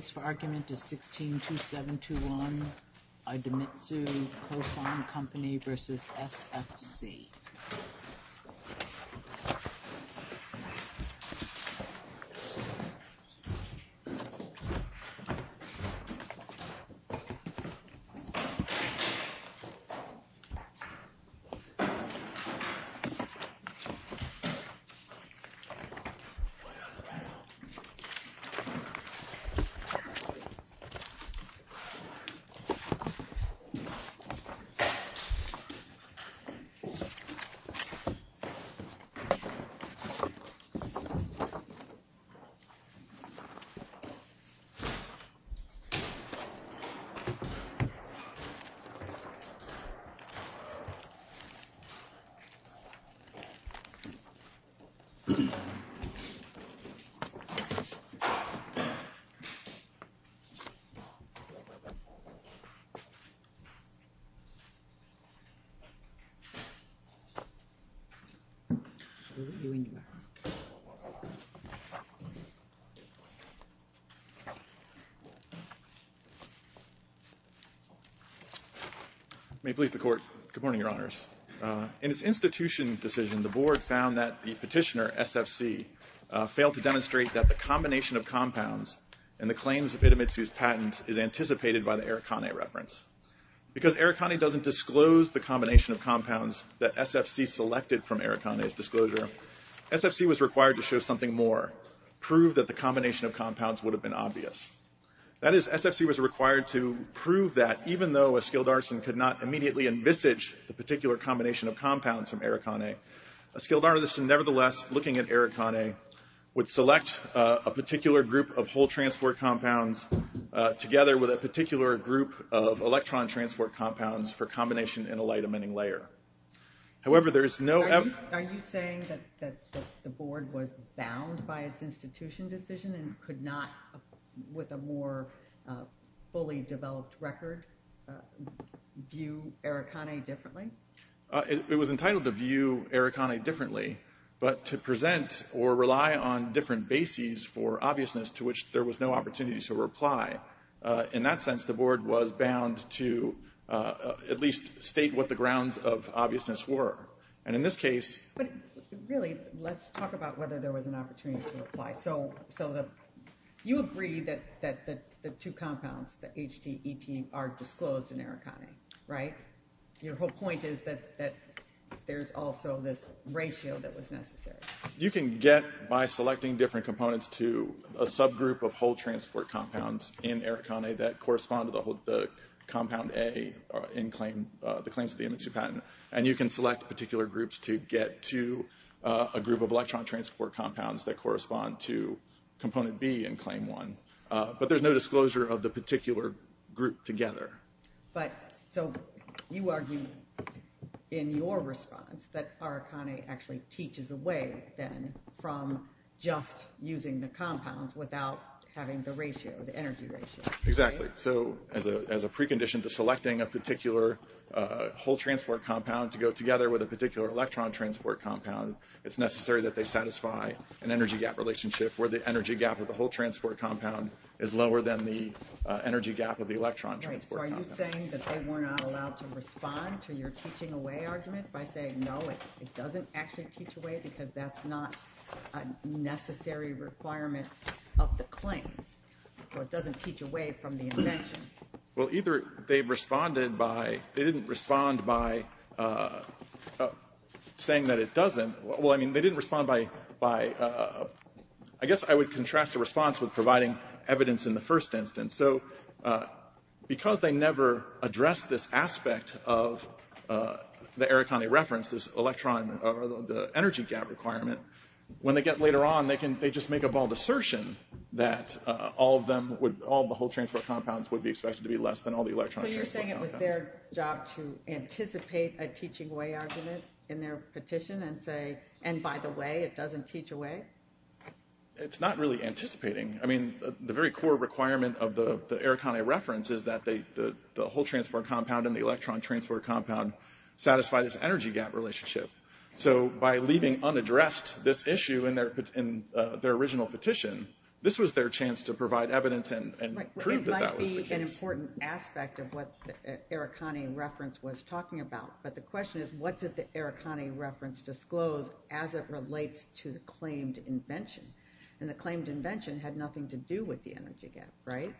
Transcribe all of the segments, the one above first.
The case for argument is 16-2721 Idemitsu Kosan Co. Ltd. v. SFC Co. Ltd. Idemitsu Kosan Co. Ltd. v. SFC Co. Ltd. May it please the Court, good morning, Your Honors. In its institution decision, the Board found that the petitioner, SFC, failed to demonstrate that the combination of compounds in the claims of Idemitsu's patent is anticipated by the Eric Cone reference. Because Eric Cone doesn't disclose the combination of compounds that SFC selected from Eric Cone's disclosure, SFC was required to show something more, prove that the combination of compounds would have been obvious. That is, SFC was required to prove that even though a skilled artisan could not immediately envisage the particular combination of compounds from Eric Cone, a skilled artisan nevertheless looking at Eric Cone would select a particular group of whole transport compounds together with a particular group of electron transport compounds for combination in a light emitting layer. However, there is no evidence... Are you saying that the Board was bound by its institution decision and could not, with a more fully developed record, view Eric Cone differently? It was entitled to view Eric Cone differently, but to present or rely on different bases for obviousness to which there was no opportunity to reply. In that sense, the Board was bound to at least state what the grounds of obviousness were. And in this case... But really, let's talk about whether there was an opportunity to reply. So you agree that the two compounds, the HT and ET, are disclosed in Eric Cone, right? Your whole point is that there's also this ratio that was necessary. You can get by selecting different components to a subgroup of whole transport compounds in Eric Cone that correspond to the compound A in the claims of the MNC patent. And you can select particular groups to get to a group of electron transport compounds that correspond to component B in claim one. But there's no disclosure of the particular group together. So you argue in your response that Eric Cone actually teaches away, then, from just using the compounds without having the ratio, the energy ratio. Exactly. So as a precondition to selecting a particular whole transport compound to go together with a particular electron transport compound, it's necessary that they satisfy an energy gap relationship where the energy gap of the whole transport compound is lower than the energy gap of the electron transport compound. So are you saying that they were not allowed to respond to your teaching away argument by saying, no, it doesn't actually teach away because that's not a necessary requirement of the claims. So it doesn't teach away from the invention. Well, either they responded by, they didn't respond by saying that it doesn't. Well, I mean, they didn't respond by, I guess I would contrast the response with providing evidence in the first instance. So because they never addressed this aspect of the Eric Cone reference, this electron or the energy gap requirement, when they get later on, they can, they just make a bald assertion that all of them would, all the whole transport compounds would be expected to be less than all the electron transport compounds. So you're saying it was their job to anticipate a teaching away argument in their petition and say, and by the way, it doesn't teach away? It's not really anticipating. I mean, the very core requirement of the Eric Cone reference is that the whole transport compound and the electron transport compound satisfy this energy gap relationship. So by leaving unaddressed this issue in their original petition, this was their chance to provide evidence and prove that that was the case. Right. Well, it might be an important aspect of what the Eric Cone reference was talking about. But the question is, what did the Eric Cone reference disclose as it relates to the claimed invention? And the claimed invention had nothing to do with the energy gap, right?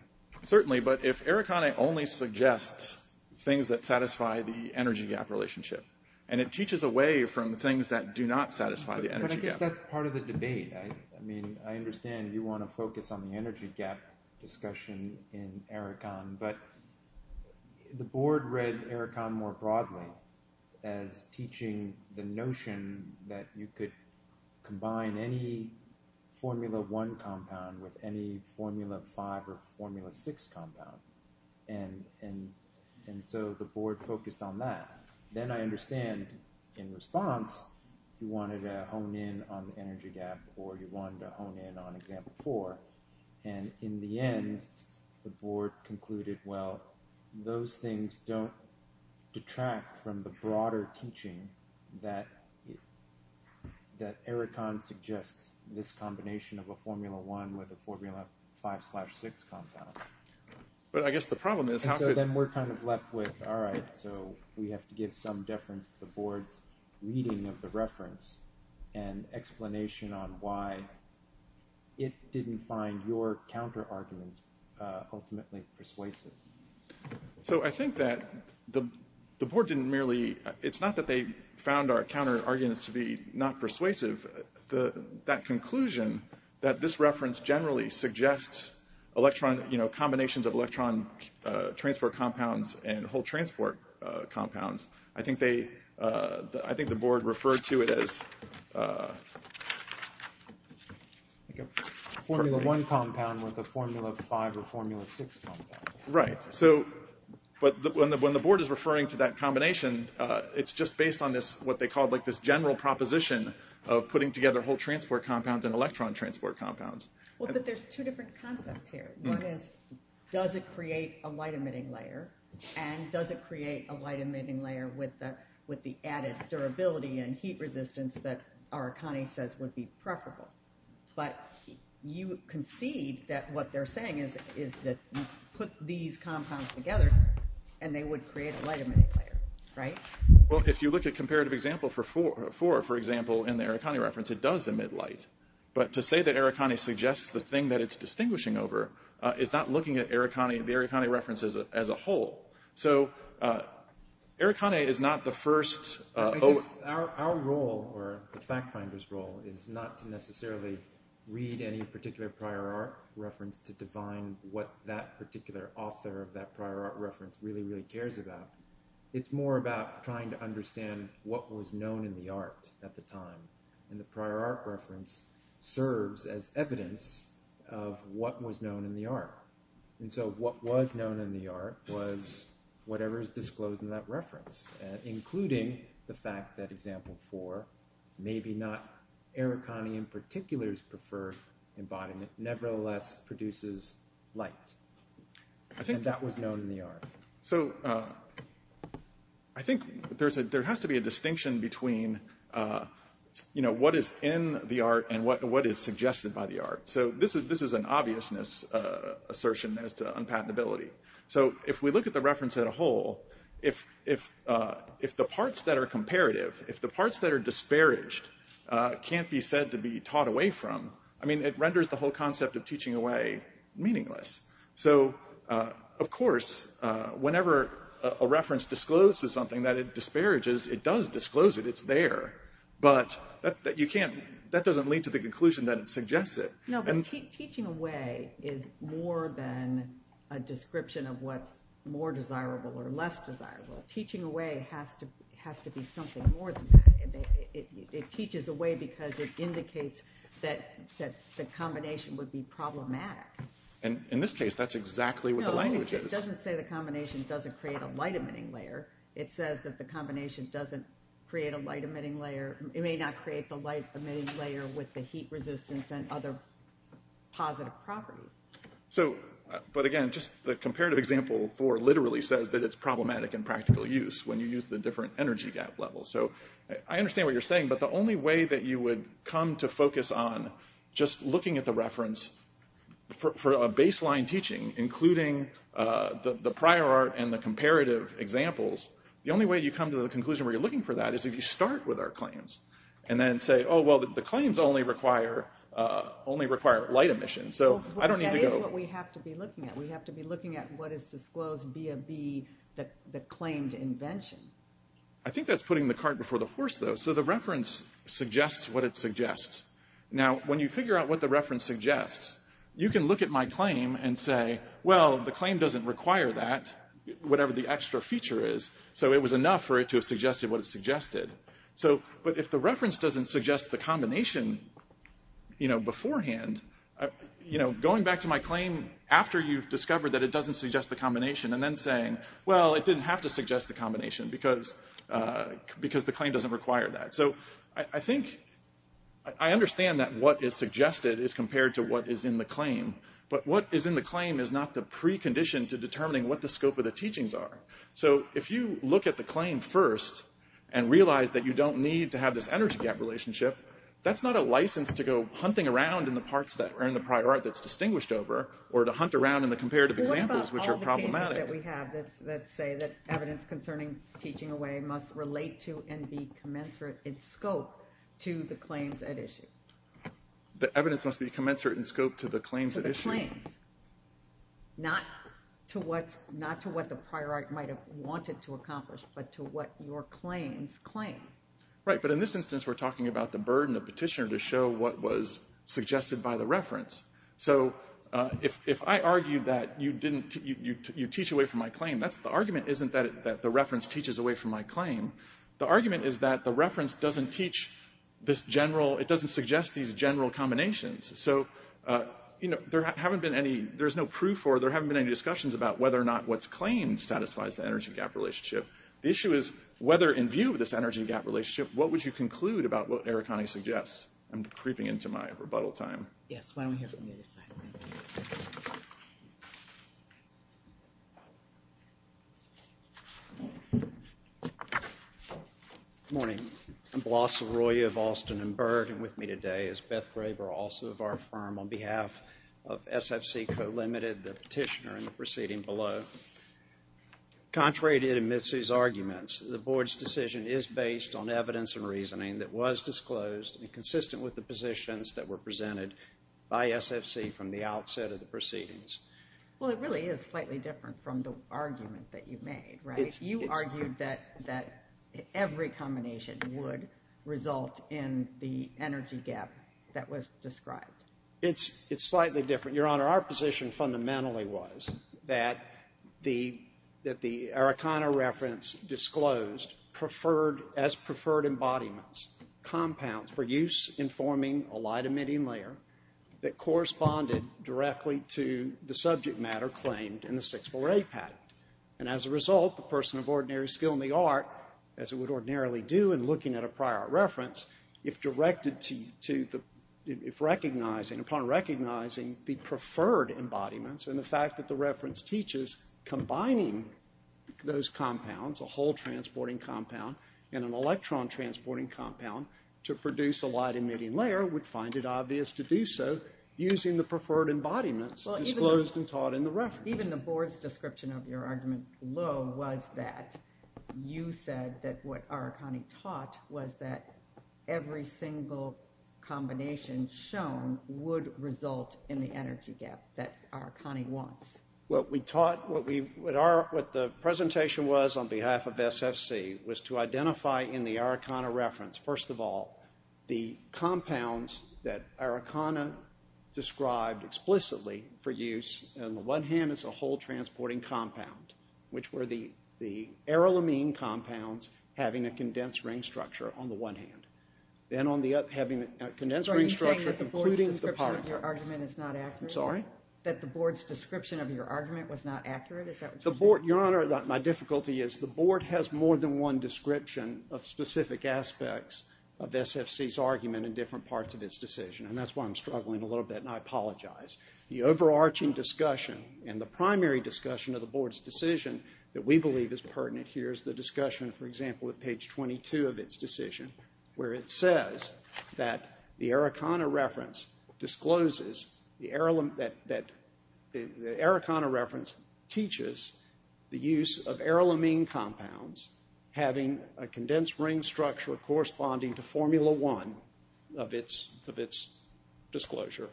Certainly. But if Eric Cone only suggests things that satisfy the energy gap relationship, and it teaches away from the things that do not satisfy the energy gap. But I guess that's part of the debate. I mean, I understand you want to focus on the energy gap discussion in Eric Cone, but the board read Eric Cone more broadly as teaching the notion that you could combine any Formula 1 compound with any Formula 5 or Formula 6 compound. And so the board focused on that. Then I understand in response, you wanted to hone in on the energy gap or you wanted to hone in on example 4. And in the end, the board concluded, well, those things don't detract from the broader teaching that Eric Cone suggests this combination of a Formula 1 with a Formula 5 slash 6 compound. But I guess the problem is how could... And so then we're kind of left with, all right, so we have to give some deference to the board's reading of the reference and explanation on why it didn't find your counter-arguments ultimately persuasive. So I think that the board didn't merely... It's not that they found our counter-arguments to be not persuasive. That conclusion that this reference generally suggests combinations of electron transport compounds and whole transport compounds. I think the board referred to it as a Formula 1 compound with a Formula 5 or Formula 6 compound. But when the board is referring to that combination, it's just based on what they call this general proposition of putting together whole transport compounds and electron transport compounds. Well, but there's two different concepts here. One is, does it create a light-emitting layer? And does it create a light-emitting layer with the added durability and heat resistance that Arakani says would be preferable? But you concede that what they're saying is that you put these compounds together and they would create a light-emitting layer, right? Well, if you look at comparative example for 4, for example, in the Arakani reference, it does emit light. But to say that Arakani suggests the thing that it's distinguishing over is not looking at the Arakani reference as a whole. So Arakani is not the first... Our role, or the fact finder's role, is not to necessarily read any particular prior art reference to define what that particular author of that prior art reference really, really cares about. It's more about trying to understand what was known in the art at the time. And the prior art reference serves as evidence of what was known in the art. And so what was known in the art was whatever is disclosed in that reference, including the fact that example 4, maybe not Arakani in particular's preferred embodiment, nevertheless produces light. And that was known in the art. So I think there has to be a distinction between what is in the art and what is suggested by the art. So this is an obviousness assertion as to unpatentability. So if we look at the reference as a whole, if the parts that are comparative, if the parts that are disparaged can't be said to be taught away from, I mean, it renders the whole concept of teaching away meaningless. So of course, whenever a reference discloses something that it disparages, it does disclose it. It's there. But that doesn't lead to the conclusion that it suggests it. No, but teaching away is more than a description of what's more desirable or less desirable. Teaching away has to be something more than that. It teaches away because it indicates that the combination would be problematic. And in this case, that's exactly what the language is. No, it doesn't say the combination doesn't create a light emitting layer. It says that the combination doesn't create a light emitting layer. It may not create the light emitting layer with the heat resistance and other positive properties. So, but again, just the comparative example for literally says that it's problematic in practical use when you use the different energy gap levels. So I understand what you're saying, but the only way that you would come to focus on just looking at the reference for a baseline teaching, including the prior art and the comparative examples, the only way you come to the conclusion where you're looking for that is if you start with our claims and then say, oh, well, the claims only require light emission. So I don't need to go... That is what we have to be looking at. We have to be looking at what is disclosed via the claimed invention. I think that's putting the cart before the horse, though. So the reference suggests what it suggests. Now, when you figure out what the reference suggests, you can look at my claim and say, well, the claim doesn't require that, whatever the extra feature is. So it was enough for it to have suggested what it suggested. But if the reference doesn't suggest the combination beforehand, going back to my claim after you've discovered that it doesn't suggest the combination and then saying, well, it didn't have to suggest the combination because the claim doesn't require that. So I think, I understand that what is suggested is compared to what is in the claim. But what is in the claim is not the precondition to determining what the scope of the teachings are. So if you look at the claim first and realize that you don't need to have this energy gap relationship, that's not a license to go hunting around in the parts that are in the prior art that's distinguished over or to hunt around in the comparative examples, which are problematic. What about all the cases that we have that say that evidence concerning teaching away must relate to and be commensurate in scope to the claims at issue? The evidence must be commensurate in scope to the claims at issue. Not to what the prior art might have wanted to accomplish, but to what your claims claim. Right. But in this instance, we're talking about the burden of petitioner to show what was suggested by the reference. So if I argue that you teach away from my claim, the argument isn't that the reference teaches away from my claim. The argument is that the reference doesn't teach this general, it doesn't suggest these general combinations. So there haven't been any, there's no proof or there haven't been any discussions about whether or not what's claimed satisfies the energy gap relationship. The issue is whether in view of this energy gap relationship, what would you conclude about what Eric Conney suggests? I'm creeping into my rebuttal time. Yes, why don't we hear from the other side. Morning. I'm Blosser Roy of Austin and Byrd and with me today is Beth Graver, also of our firm, on behalf of SFC Co Ltd, the petitioner in the proceeding below. Contrary to Mitsou's arguments, the board's decision is based on evidence and reasoning that was disclosed and consistent with the positions that were presented by SFC from the outset of the proceedings. Well, it really is slightly different from the argument that you made, right? You argued that every combination would result in the energy gap that was described. It's slightly different. Your Honor, our position fundamentally was that the Eric Conner reference disclosed as preferred embodiments, compounds for use in forming a light emitting layer that corresponded directly to the subject matter claimed in the 648 patent. As a result, the person of ordinary skill in the art, as it would ordinarily do in looking at a prior reference, if recognizing the preferred embodiments and the fact that the reference teaches combining those compounds, a hole transporting compound and an electron transporting compound to produce a light emitting layer, would find it obvious to do so using the preferred embodiments disclosed and taught in the reference. Even the board's description of your argument below was that you said that what Eric Conner taught was that every single combination shown would result in the energy gap that Eric Conner wants. What we taught, what the presentation was on behalf of SFC was to identify in the Eric Conner reference, first of all, the compounds that Eric Conner described explicitly for use on the one hand as a hole transporting compound, which were the arylamine compounds having a condensed ring structure on the one hand. Then on the other, having a condensed ring structure including the polypropylene. Are you saying that the board's description of your argument is not accurate? I'm sorry? Your Honor, my difficulty is the board has more than one description of specific aspects of SFC's argument in different parts of its decision and that's why I'm struggling a little bit and I apologize. The overarching discussion and the primary discussion of the board's decision that we believe is pertinent here is the discussion, for example, at page 22 of its decision where it says that the Eric Conner reference discloses the arylamine, that the Eric Conner reference teaches the use of arylamine compounds having a condensed ring structure corresponding to formula one of its disclosure.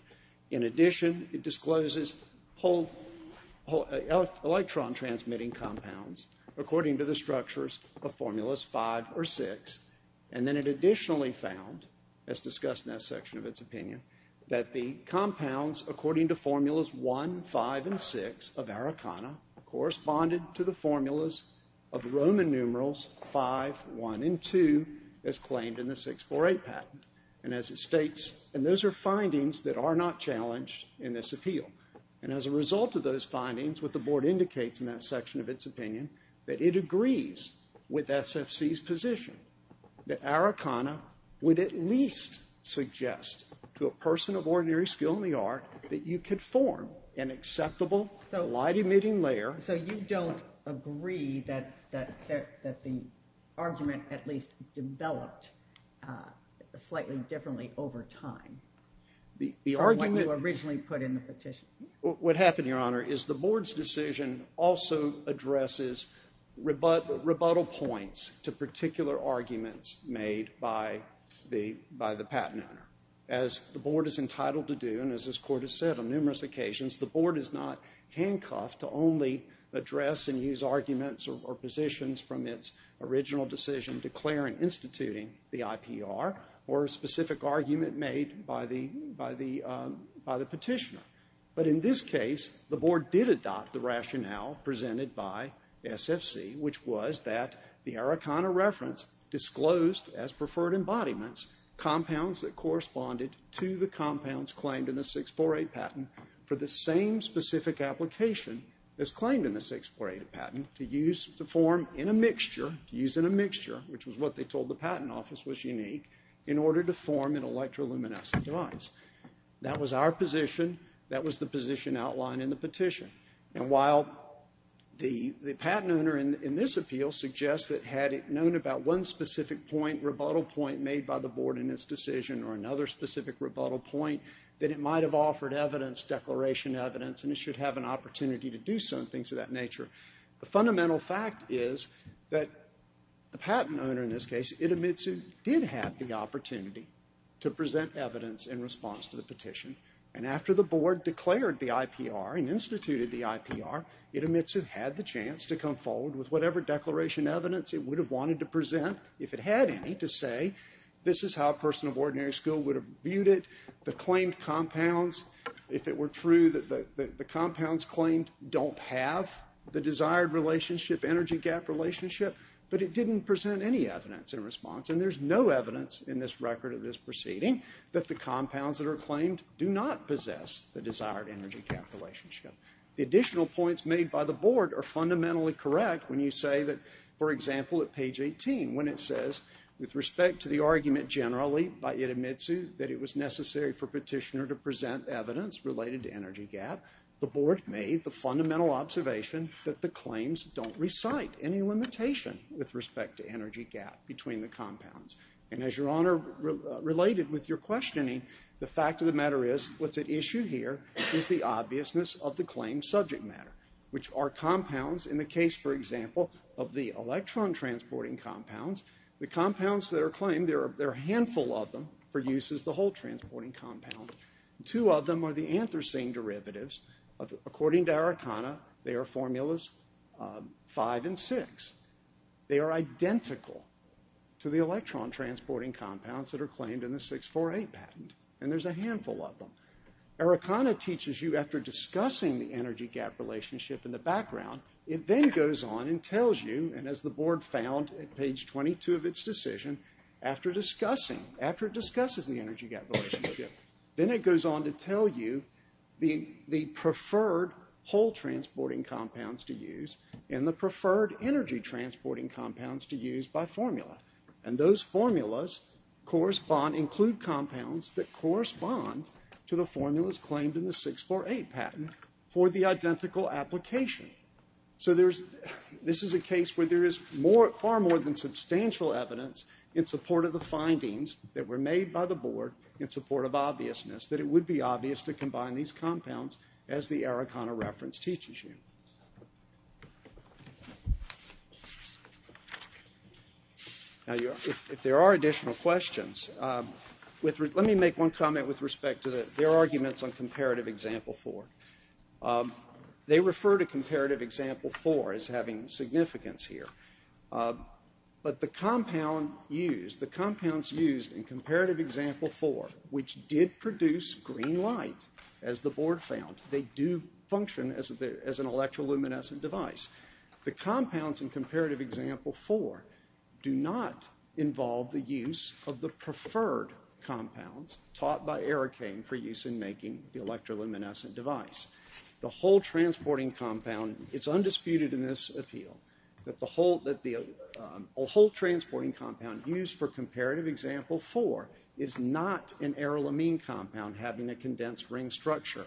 In addition, it discloses electron transmitting compounds according to the structures of formulas five or six and then it additionally found, as discussed in that section of its opinion, that the compounds according to formulas one, five, and six of Eric Conner corresponded to the formulas of Roman numerals five, one, and two as claimed in the 648 patent. As it states, and those are findings that are not challenged in this appeal. As a result of those findings, what the board indicates in that section of its opinion, that it agrees with SFC's position that Eric Conner would at least suggest to a person of ordinary skill in the art that you could form an acceptable light-emitting layer. So you don't agree that the argument at least developed slightly differently over time? The argument... From what you originally put in the petition. What happened, your honor, is the board's decision also addresses rebuttal points to particular arguments made by the patent owner. As the board is entitled to do and as this court has said on numerous occasions, the board is not handcuffed to only address and use arguments or positions from its original decision declaring and instituting the IPR or a specific argument made by the petitioner. But in this case, the board did adopt the rationale presented by SFC, which was that the Eric Conner reference disclosed as preferred embodiments compounds that corresponded to the compounds claimed in the 648 patent for the same specific application as claimed in the 648 patent to use to form in a mixture, to use in a mixture, which was what they told the patent office was unique, in order to form an electroluminescent device. That was our position. That was the position outlined in the petition. And while the patent owner in this appeal suggests that had it known about one specific point, rebuttal point made by the board in its decision or another specific rebuttal point, that it might have offered evidence, declaration evidence, and it should have an opportunity to do some things of that nature. The fundamental fact is that the patent owner in this case, Itomitsu, did have the opportunity to present evidence in response to the petition. And after the board declared the IPR and instituted the IPR, Itomitsu had the chance to come forward with whatever declaration evidence it would have wanted to present, if it had any, to say, this is how a person of ordinary skill would have viewed it, the claimed compounds, if it were true that the compounds claimed don't have the desired relationship, energy gap relationship, but it didn't present any evidence in response. And there's no evidence in this record of this proceeding that the compounds that are claimed do not possess the desired energy gap relationship. Additional points made by the board are fundamentally correct when you say that, for example, at page 18, when it says, with respect to the argument generally by Itomitsu that it was necessary for petitioner to present evidence related to energy gap, the board made the fundamental observation that the claims don't recite any limitation with respect to energy gap between the compounds. And as Your Honor related with your questioning, the fact of the matter is, what's at issue here is the obviousness of the claimed subject matter, which are compounds, in the case, for example, of the electron transporting compounds. The compounds that are claimed, there are a handful of them for use as the whole transporting compound. Two of them are the anthracene derivatives. According to Araucana, they are formulas five and six. They are identical to the electron transporting compounds that are claimed in the 648 patent. And there's a handful of them. Araucana teaches you, after discussing the energy gap relationship in the background, it then goes on and tells you, and as the board found at page 22 of its decision, after discussing, after it discusses the energy gap relationship, then it goes on to tell you the preferred whole transporting compounds to use and the preferred energy transporting compounds to use by formula. And those formulas correspond, include compounds that correspond to the formulas claimed in the 648 patent for the identical application. So there's, this is a case where there is far more than substantial evidence in support of the findings that were made by the board in support of obviousness, that it would be obvious to combine these compounds as the Araucana reference teaches you. Now if there are additional questions, let me make one comment with respect to their arguments on comparative example four. They refer to comparative example four as having significance here. But the compound used, the compounds used in comparative example four, which did produce green light, as the board found, they do function as an electroluminescent device. The compounds in comparative example four do not involve the use of the preferred compounds taught by Aracane for use in making the electroluminescent device. The whole transporting compound, it's undisputed in this appeal, that the whole, that the whole having a condensed ring structure,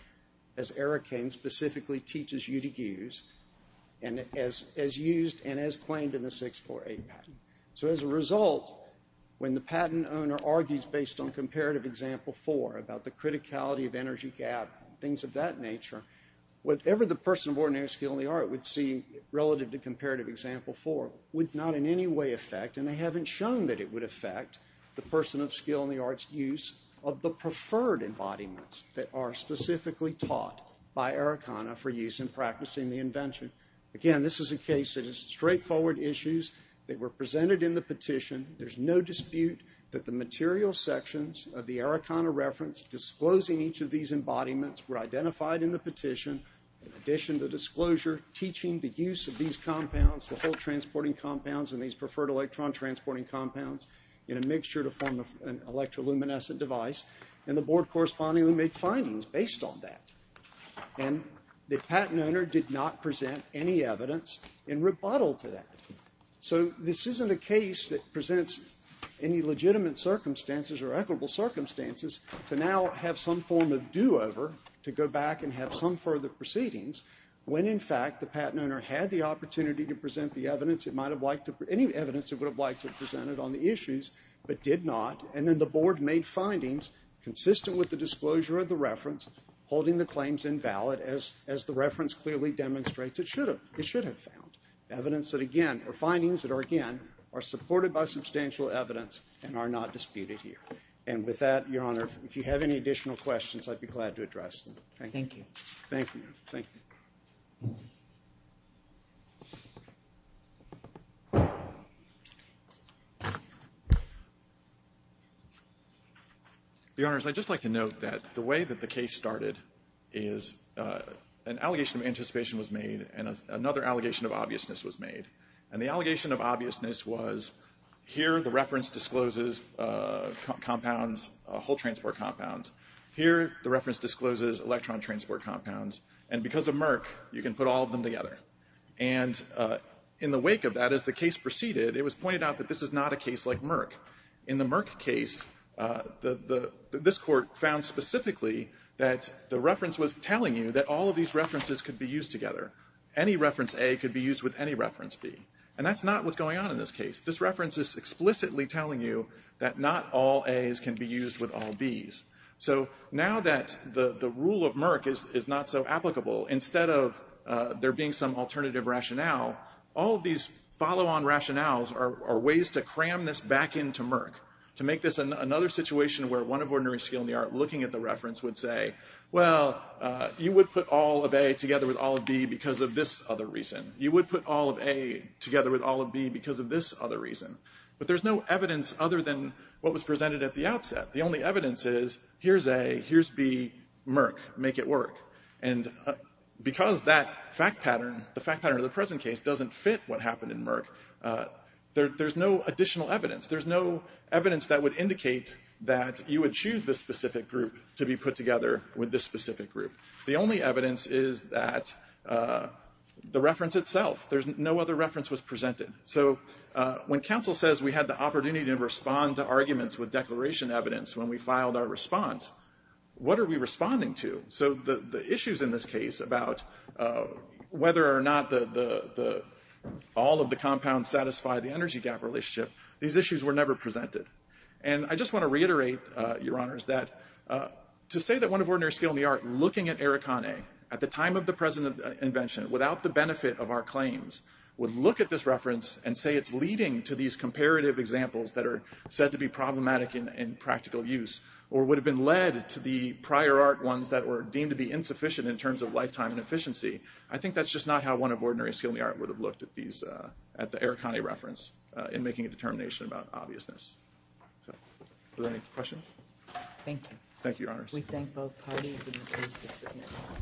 as Aracane specifically teaches you to use, and as used and as claimed in the 648 patent. So as a result, when the patent owner argues based on comparative example four about the criticality of energy gap, things of that nature, whatever the person of ordinary skill in the art would see relative to comparative example four, would not in any way affect, and they haven't shown that it would affect, the person of skill in the art's use of the preferred embodiments that are specifically taught by Aracane for use in practicing the invention. Again, this is a case that is straightforward issues that were presented in the petition. There's no dispute that the material sections of the Aracane reference disclosing each of these embodiments were identified in the petition, in addition to disclosure teaching the use of these compounds, the whole transporting compounds, and these preferred electron transporting compounds in a mixture to form an electroluminescent device, and the board correspondingly made findings based on that. And the patent owner did not present any evidence in rebuttal to that. So this isn't a case that presents any legitimate circumstances or equitable circumstances to now have some form of do-over to go back and have some further proceedings, when in fact the patent owner had the opportunity to present the evidence it might have liked to, any evidence it would have liked to have presented on the issues, but did not, and then the board made findings consistent with the disclosure of the reference, holding the claims invalid as the reference clearly demonstrates it should have, it should have found. Evidence that again, or findings that are again, are supported by substantial evidence and are not disputed here. And with that, your honor, if you have any additional questions, I'd be glad to address them. Thank you. Thank you. Your honors, I'd just like to note that the way that the case started is an allegation of anticipation was made, and another allegation of obviousness was made. And the allegation of obviousness was, here the reference discloses compounds, hole transport compounds, here the reference discloses electron transport compounds, and because of Merck, you can put all of them together. And in the wake of that, as the case proceeded, it was pointed out that this is not a case like Merck. In the Merck case, this court found specifically that the reference was telling you that all of these references could be used together. Any reference A could be used with any reference B. And that's not what's going on in this case. This reference is explicitly telling you that not all A's can be used with all B's. So now that the rule of Merck is not so applicable, instead of there being some alternative rationale, all these follow-on rationales are ways to cram this back into Merck, to make this another situation where one of ordinary skill in the art looking at the reference would say, well, you would put all of A together with all of B because of this other reason. You would put all of A together with all of B because of this other reason. But there's no evidence other than what was presented at the outset. The only evidence is, here's A, here's B, Merck, make it work. And because that fact pattern, the fact pattern of the present case, doesn't fit what happened in Merck, there's no additional evidence. There's no evidence that would indicate that you would choose this specific group to be put together with this specific group. The only evidence is that the reference itself, there's no other reference was presented. So when counsel says we had the opportunity to respond to arguments with declaration evidence when we filed our response, what are we responding to? So the issues in this case about whether or not all of the compounds satisfy the energy gap relationship, these issues were never presented. And I just want to reiterate, Your Honors, that to say that one of ordinary skill in the art looking at Eric Connay at the time of the present invention, without the benefit of our claims, would look at this reference and say it's leading to these comparative examples that are said to be problematic in practical use, or would have been led to the prior art ones that were deemed to be insufficient in terms of lifetime and efficiency, I think that's just not how one of ordinary skill in the art would have looked at these, at the Eric Connay reference in making a determination about obviousness. So, are there any questions? Thank you. Thank you, Your Honors. We thank both parties.